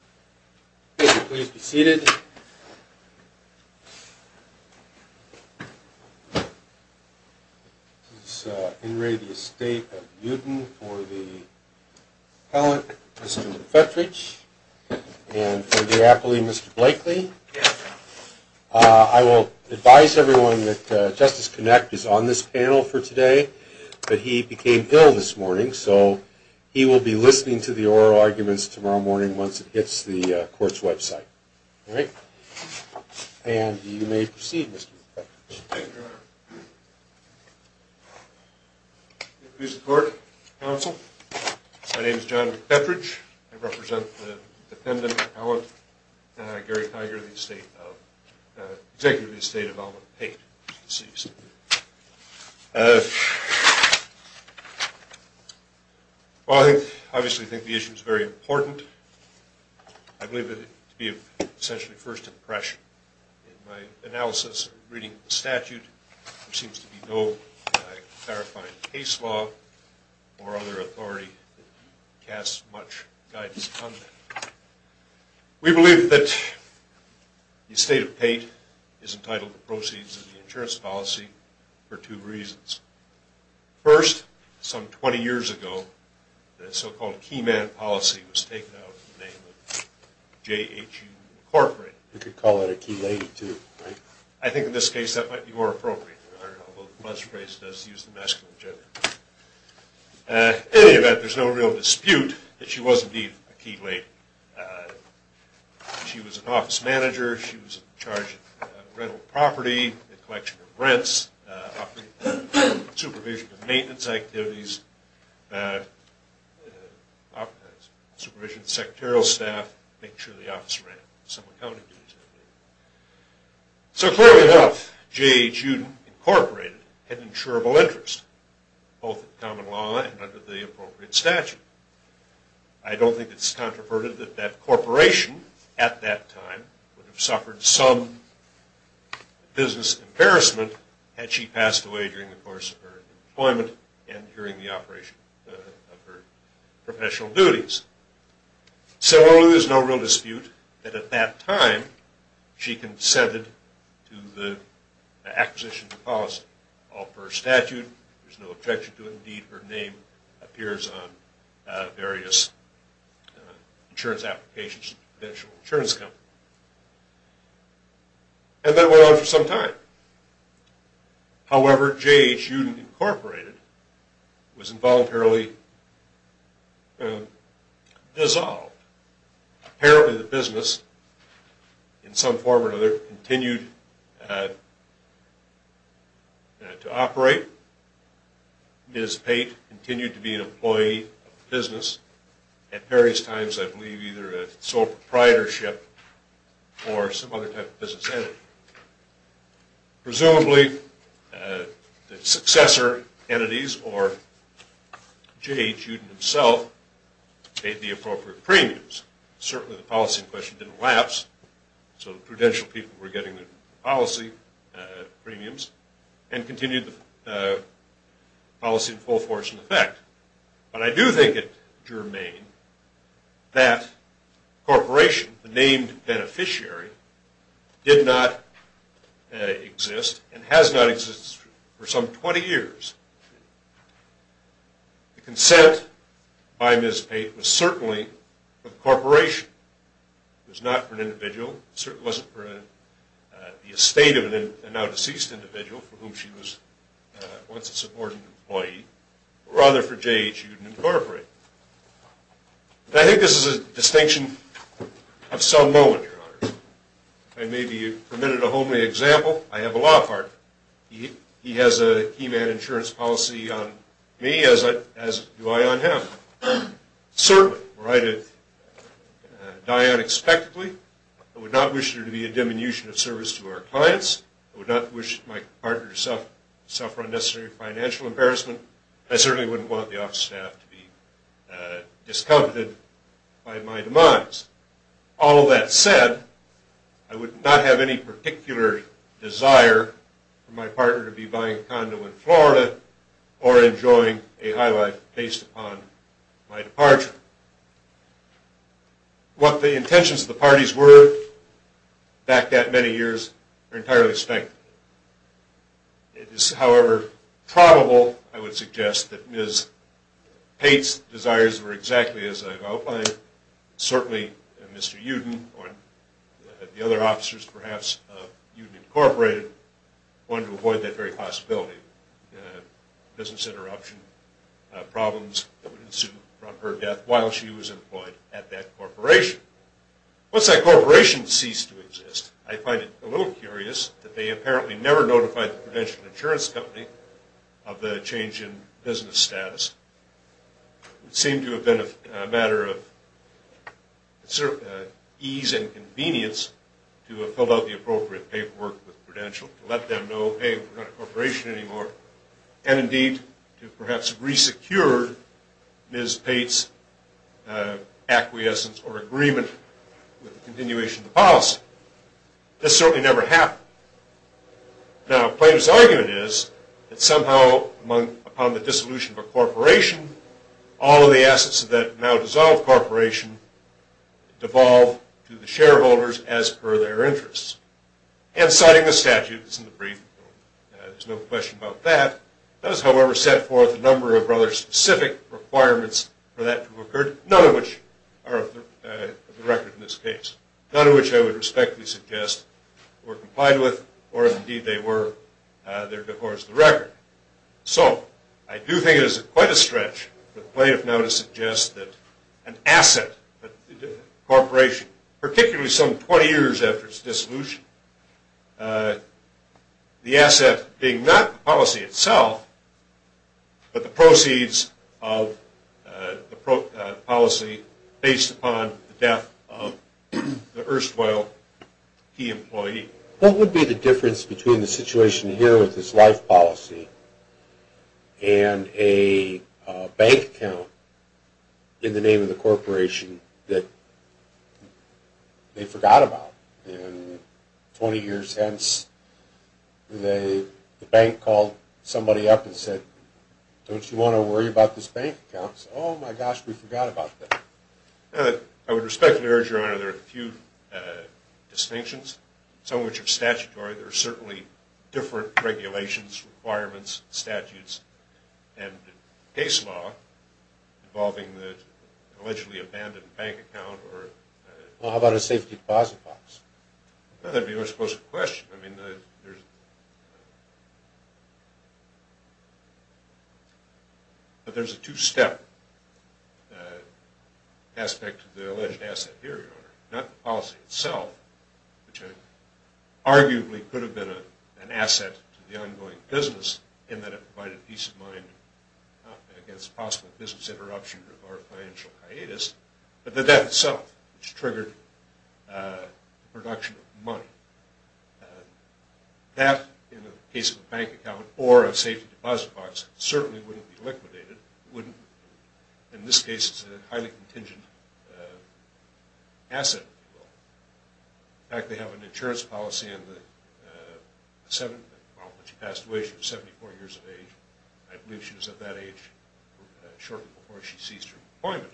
for the appellate, Mr. Petrich, and for the appellee, Mr. Blakely. I will advise everyone that Justice Connect is on this panel for today, but he became ill this morning, so he will be listening to the oral arguments tomorrow morning once it hits the court's website. All right, and you may proceed, Mr. Petrich. May it please the court, counsel. My name is John Petrich. I represent the Well, I obviously think the issue is very important. I believe it to be of essentially first impression in my analysis reading the statute. There seems to be no clarifying case law or other authority that casts much guidance on that. We believe that the estate of Pate is entitled to proceeds of the insurance policy for two reasons. First, some 20 years ago, the so-called key man policy was taken out of the name of J.H.U. Incorporated. You could call it a key lady too, right? I think in this case, that might be more appropriate. I don't know how well the buzz phrase does to use the masculine gender. In any event, there's no real dispute that she was indeed a key lady. She was an office manager. She was in charge of rental property, the collection of rents, supervision of maintenance activities, supervision of secretarial staff, making sure the office ran. So clearly enough, J.H.U. Incorporated had insurable interest, both in common law and under the appropriate statute. I don't think it's controversial that that corporation at that time would have suffered some business embarrassment had she passed away during the course of her employment and during the operation of her professional duties. So there's no real dispute that at that time she consented to the acquisition of policy. All per statute, there's no objection to it. Indeed, her name appears on various insurance applications to financial insurance companies. And that went on for some time. However, J.H.U. Incorporated was involuntarily dissolved. Apparently the business, in some form or another, continued to operate. Ms. Pate continued to be an employee of the business at various times, I believe either sole proprietorship or some other type of business entity. Presumably the successor entities or J.H.U. himself paid the appropriate premiums. Certainly the policy question didn't lapse. So the prudential people were getting the policy premiums and continued policy in full force and effect. But I do think it germane that corporation, the named beneficiary, did not exist and has not existed for some 20 years. The consent by Ms. Pate was certainly for the corporation. It was not for an individual. It certainly wasn't for the estate of a now deceased individual for whom she was once a supporting employee. Rather for J.H.U. Incorporated. I think this is a distinction of some moment, Your Honor. If I may be permitted a homely example, I have a law partner. He has a key man insurance policy on me as do I on him. Certainly were I to die unexpectedly, I would not wish there to be a diminution of service to our clients. I would not wish my partner to suffer unnecessary financial embarrassment. I certainly wouldn't want the office staff to be discomfited by my demise. All of that said, I would not have any particular desire for my partner to be buying a condo in Florida or enjoying a high life based upon my departure. What the intentions of the parties were back that many years are entirely spanked. It is however probable, I would suggest, that Ms. Pate's desires were exactly as I've certainly Mr. Uden or the other officers perhaps of Uden Incorporated wanted to avoid that very possibility of business interruption problems that would ensue from her death while she was employed at that corporation. Once that corporation ceased to exist, I find it a little curious that they apparently never notified the Prudential Insurance Company of the change in business status. It seemed to have been a matter of ease and convenience to have filled out the appropriate paperwork with Prudential to let them know, hey, we're not a corporation anymore, and indeed to perhaps re-secure Ms. Pate's acquiescence or agreement with the continuation of the policy. This certainly never happened. Now Plater's argument is that somehow upon the dissolution of a corporation, all of the assets of that now dissolved corporation devolve to the shareholders as per their interests. And citing the statutes in the brief, there's no question about that, that has however set forth a number of rather specific requirements for that to occur, none of which are of the record in this case. None of which I would respectfully suggest were complied with or indeed they were, there is quite a stretch for Plater now to suggest that an asset, a corporation, particularly some 20 years after its dissolution, the asset being not policy itself, but the proceeds of the policy based upon the death of the erstwhile key employee. What would be the difference between the situation here with this life policy and a bank account in the name of the corporation that they forgot about? In 20 years hence, the bank called somebody up and said, don't you want to worry about this bank account? Oh my gosh, we forgot about that. I would respectfully urge your honor there are a few distinctions, some of which are statutory, there are certainly different regulations, requirements, statutes, and case law involving the allegedly abandoned bank account. Well how about a safe deposit box? That would be a much closer question, but there's a two step aspect to the alleged asset here, your honor. Not the policy itself, which arguably could have been an asset to the ongoing business in that it provided peace of mind against possible business interruption or financial hiatus, but the death itself which triggered the production of money. That in the case of a bank account or a safety deposit box certainly wouldn't be in this case a highly contingent asset. In fact they have an insurance policy on the seven, well when she passed away she was 74 years of age. I believe she was at that age shortly before she ceased her employment.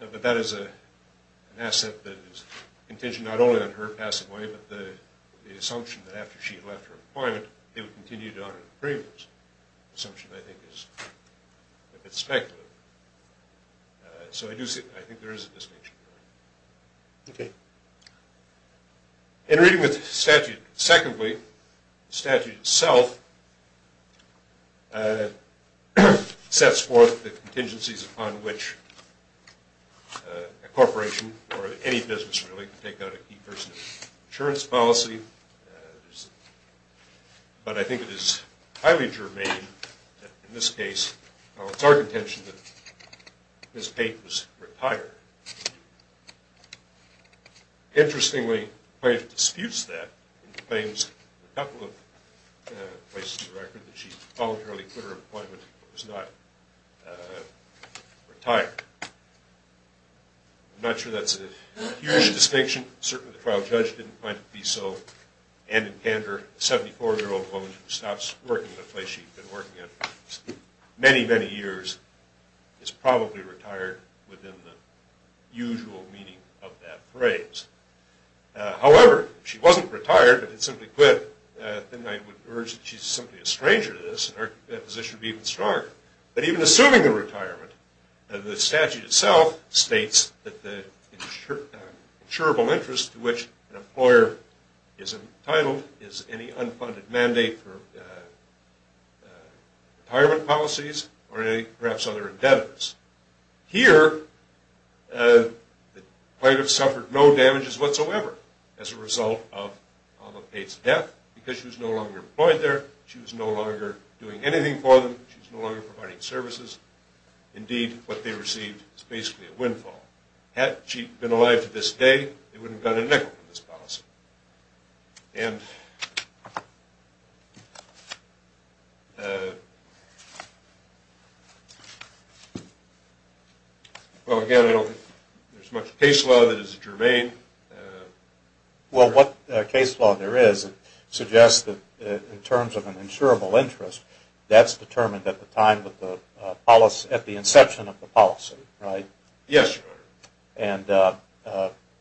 But that is an asset that is contingent not only on her passing away, but the assumption I think is a bit speculative. So I do see, I think there is a distinction. Okay. In reading with statute, secondly, the statute itself sets forth the contingencies upon which a corporation or any business really can take an insurance policy. But I think it is highly germane that in this case, well it's our contention that Ms. Pate was retired. Interestingly the plaintiff disputes that and claims in a couple of places in the record that she voluntarily quit her employment and was not retired. I'm not sure that's a huge distinction. Certainly the trial judge didn't find it to be so. And in candor, a 74-year-old woman who stops working at a place she's been working at many, many years is probably retired within the usual meaning of that phrase. However, if she wasn't retired but had simply quit, then I would urge that she's simply a stranger to this and that position would be even stronger. But even assuming the retirement, the statute itself states that the insurable interest to which an employer is entitled is any unfunded mandate for retirement policies or any perhaps other indebtedness. Here, the plaintiff suffered no damages whatsoever as a result of Ms. Pate's death because she was no longer employed there, she was no longer doing anything for them, she was no longer providing services. Indeed, what they received is basically a windfall. Had she been alive to this day, they wouldn't have gotten a nickel for this policy. And well again, I don't think there's much case law that is germane. Well, what case law there is, it suggests that in terms of an insurable interest, that's determined at the time of the policy, at the inception of the policy, right? Yes. And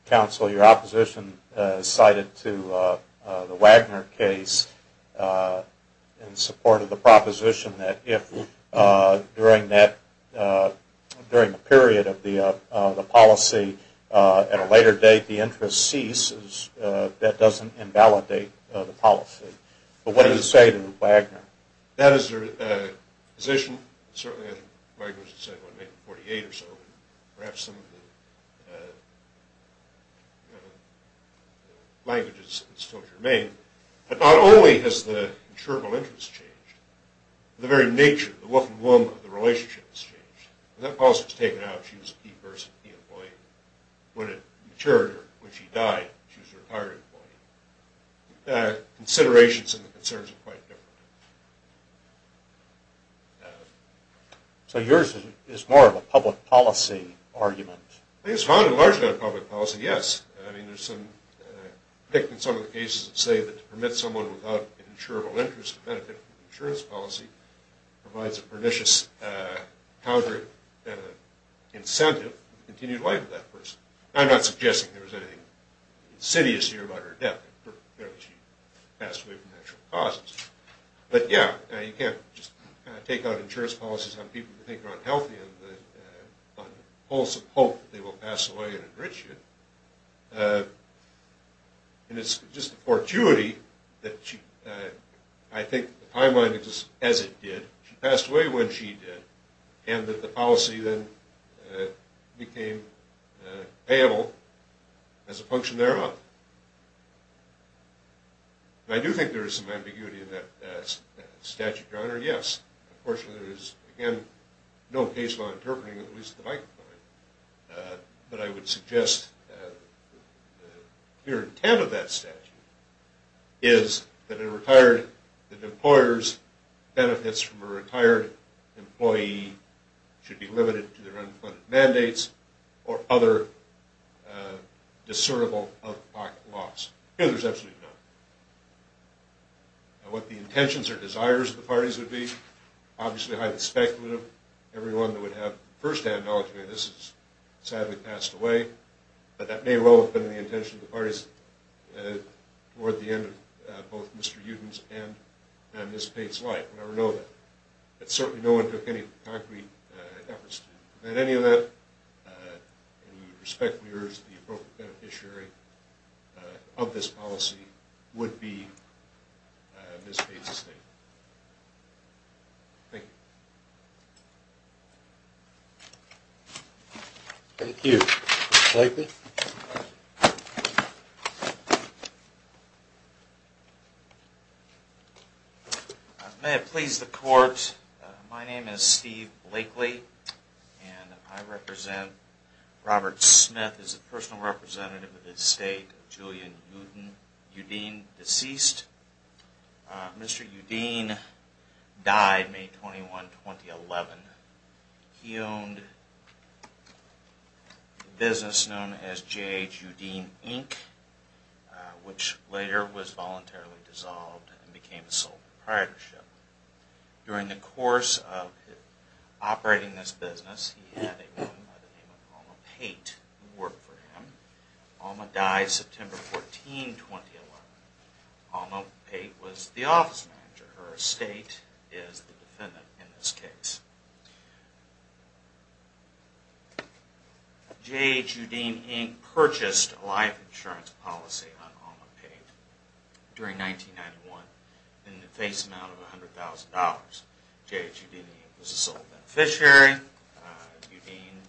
counsel, your opposition is cited to the Wagner case in support of the proposition that if during that, during the period of the policy, at a later date, the interest ceases, that doesn't invalidate the policy. But what do you say to Wagner? That is their position. Certainly, Wagner would say in 1948 or so, perhaps some of the language is still germane. But not only has the insurable interest changed, the very nature, the wolf and womb of the relationship has changed. That policy was taken out, she was a key person, key employee. When it matured, when she died, she was a retired employee. Considerations and the concerns are quite different. So yours is more of a public policy argument? I think it's founded largely on public policy, yes. I mean, there's some, I think in some of the cases that say that to permit someone without an insurable interest benefit from the insurance policy provides a pernicious counter and an incentive to continue the life of that person. I'm not suggesting there was anything insidious here about her death. She passed away from natural causes. But yeah, you can't just take out insurance policies on people who think they're unhealthy on the pulse of hope that they will pass away and enrich you. And it's just a fortuity that I think the timeline exists as it did. She passed away when she did, and that the policy then became payable as a function thereof. I do think there is some ambiguity in that statute, Your Honor. Yes, of course, there is, again, no case law interpreting, at least at the Mike point. But I would suggest the mere intent of that statute is that a retired, that employers' benefits from a retired employee should be limited to their unfunded mandates or other discernible out-of-pocket loss. Here, there's absolutely none. And what the intentions or desires of the parties would be, obviously highly speculative. Everyone that would have first-hand knowledge of this is sadly passed away. But that may well have been the intention of the parties toward the end of both Mr. Uden's and Ms. Pate's life. We never know that. But certainly, no one took any concrete efforts to prevent any of that. And we would respectfully urge the appropriate beneficiary of this policy would be Ms. Pate's estate. Thank you. Thank you. Mr. Blakely. May it please the Court, my name is Steve Blakely, and I represent Robert Smith as a personal friend. Mr. Blakely died on September 21, 2011. He owned a business known as J.H. Udine, Inc., which later was voluntarily dissolved and became a sole proprietorship. During the course of operating this business, he had a woman by the name of Alma Pate who worked for him. Alma died September 14, 2011. Alma Pate was the office manager. Her estate is the defendant in this case. J.H. Udine, Inc. purchased a life insurance policy on Alma Pate during 1991 in the face amount of $100,000. J.H. Udine, Inc. was a sole beneficiary. Udine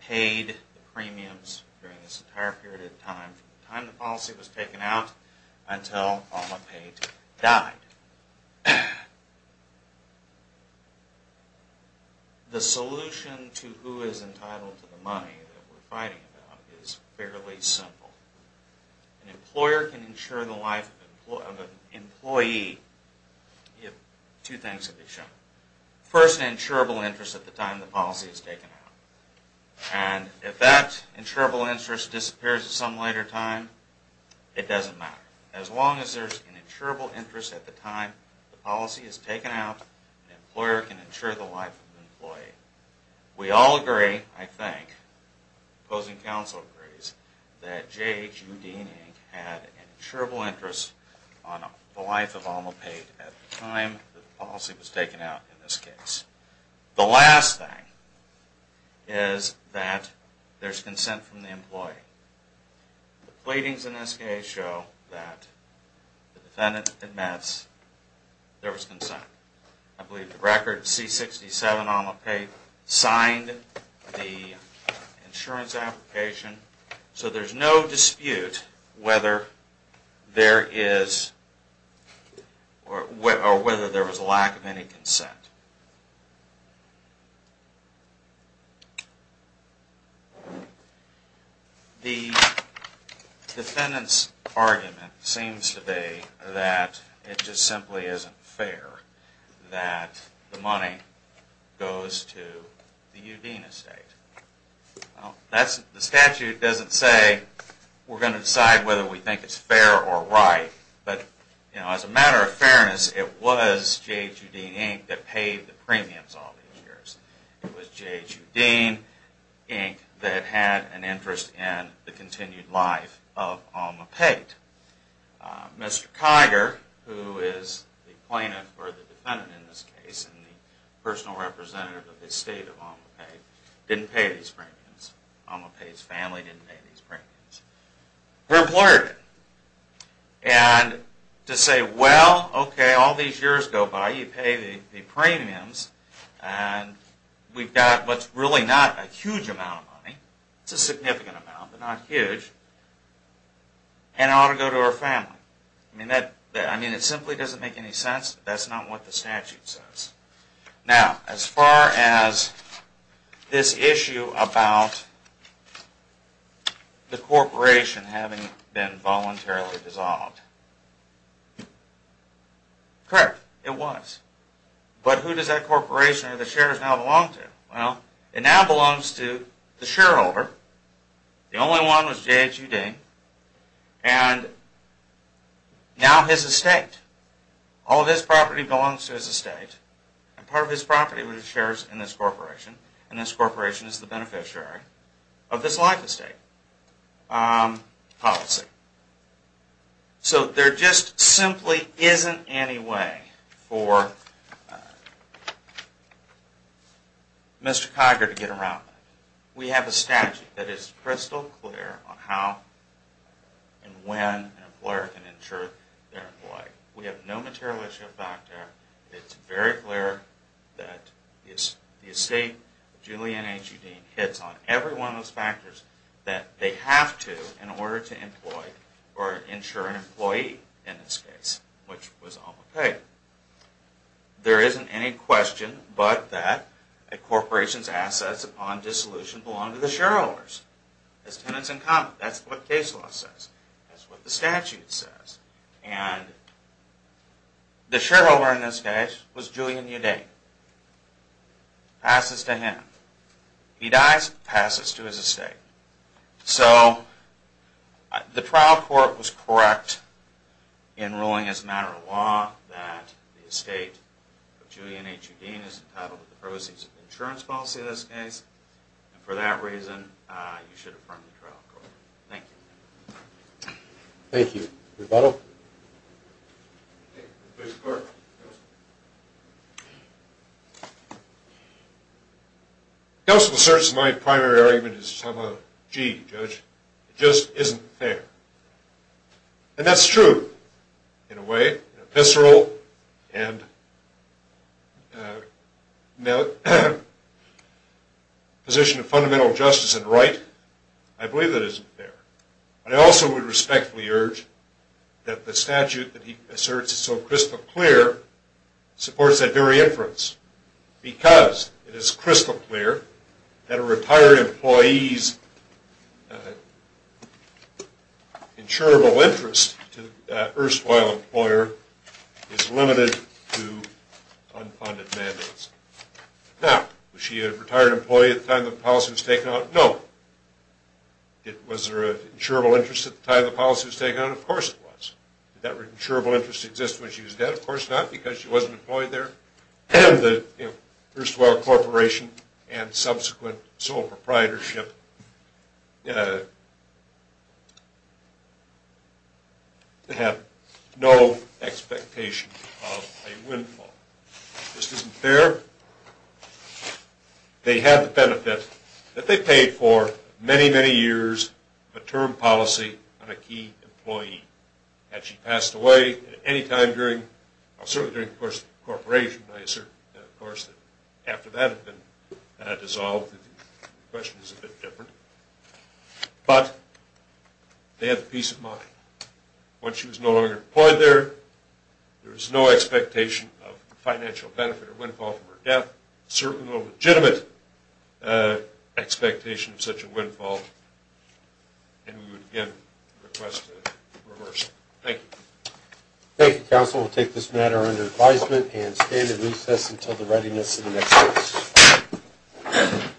paid the premiums during this period of time, from the time the policy was taken out until Alma Pate died. The solution to who is entitled to the money that we're fighting about is fairly simple. An employer can insure the life of an employee if two things can be shown. First, an insurable interest at the time the policy is taken out. And if that insurable interest disappears at some later time, it doesn't matter. As long as there's an insurable interest at the time the policy is taken out, an employer can insure the life of an employee. We all agree, I think, opposing counsel agrees, that J.H. Udine, Inc. had an insurable interest on the life of Alma Pate at the time the policy was taken out in this case. The last thing is that there's consent from the employee. The pleadings in this case show that the defendant admits there was consent. I believe the record C-67 Alma Pate signed the insurance application, so there's no dispute whether there is or whether there was a lack of any consent. The defendant's argument seems to be that it just simply isn't fair that the money goes to Udine Estate. The statute doesn't say we're going to decide whether we think it's fair or right, but as a matter of fairness, it was J.H. Udine, Inc. that paid the premiums all these years. It was J.H. Udine, Inc. that had an interest in the continued life of Alma Pate. Mr. Kiger, who is the plaintiff, or the defendant in this case, and the personal representative of the estate of Alma Pate, didn't pay these premiums. Alma Pate's family didn't pay these premiums. Her employer did. And to say, well, okay, all these years go by, you pay the premiums, and we've got what's really not a huge amount of money, it's a significant amount, but not huge, and it ought to go to her family. I mean, it simply doesn't make any sense. That's not what the statute says. Now, as far as this issue about the corporation having been voluntarily dissolved, correct, it was. But who does that corporation or the shares now belong to? Well, it now belongs to the shareholder. The only one was J.H. Udine, and now his estate. All of his property belongs to his estate, and part of his property were the shares in this corporation, and this corporation is the beneficiary of this life estate policy. So there just simply isn't any way for Mr. Cogger to get around that. We have a statute that is crystal clear on how and when an employer can insure their employee. We have no material issue back there. It's very clear that the estate of Julianne H. Udine hits on every one of those factors that they have to in order to employ or insure an employee in this case, which was all okay. There isn't any question but that a corporation's assets upon dissolution belong to the shareholders as tenants in common. That's what case law says. That's what the statute says, and the shareholder in this case was Julianne Udine. Passes to him. He dies, passes to his estate. So the trial court was correct in ruling as a matter of law that the estate of Julianne H. Udine is entitled to the proceeds of the insurance policy in this case, and for that reason you should just say, gee, Judge, it just isn't fair. And that's true in a way, in a visceral and position of fundamental justice and right. I believe that isn't fair. But I also would respectfully urge that the statute that he asserts is so crystal clear supports that very inference because it is crystal clear that a retired employee's insurable interest to an erstwhile employer is limited to unfunded mandates. Now, was she a retired employee at the time the policy was taken out? No. Was there an insurable interest at the time the policy was taken out? Of course it was. Did that insurable interest exist when she was dead? Of course not, because she wasn't employed there. And the erstwhile corporation and subsequent sole proprietorship have no expectation of a windfall. This isn't fair. They have the benefit that they paid for many, many years of a term policy on a key employee. Had she passed away at any time during, certainly during the course of the corporation, I assert that of course after that had been dissolved, the question is a bit different. But they have the peace of mind. Once she was no longer employed there, there was no expectation of financial benefit or windfall from her death, certainly no legitimate expectation of such a windfall. And we would again request a reversal. Thank you. Thank you, counsel. We'll take this matter under advisement and stand in recess until the readiness of the next case.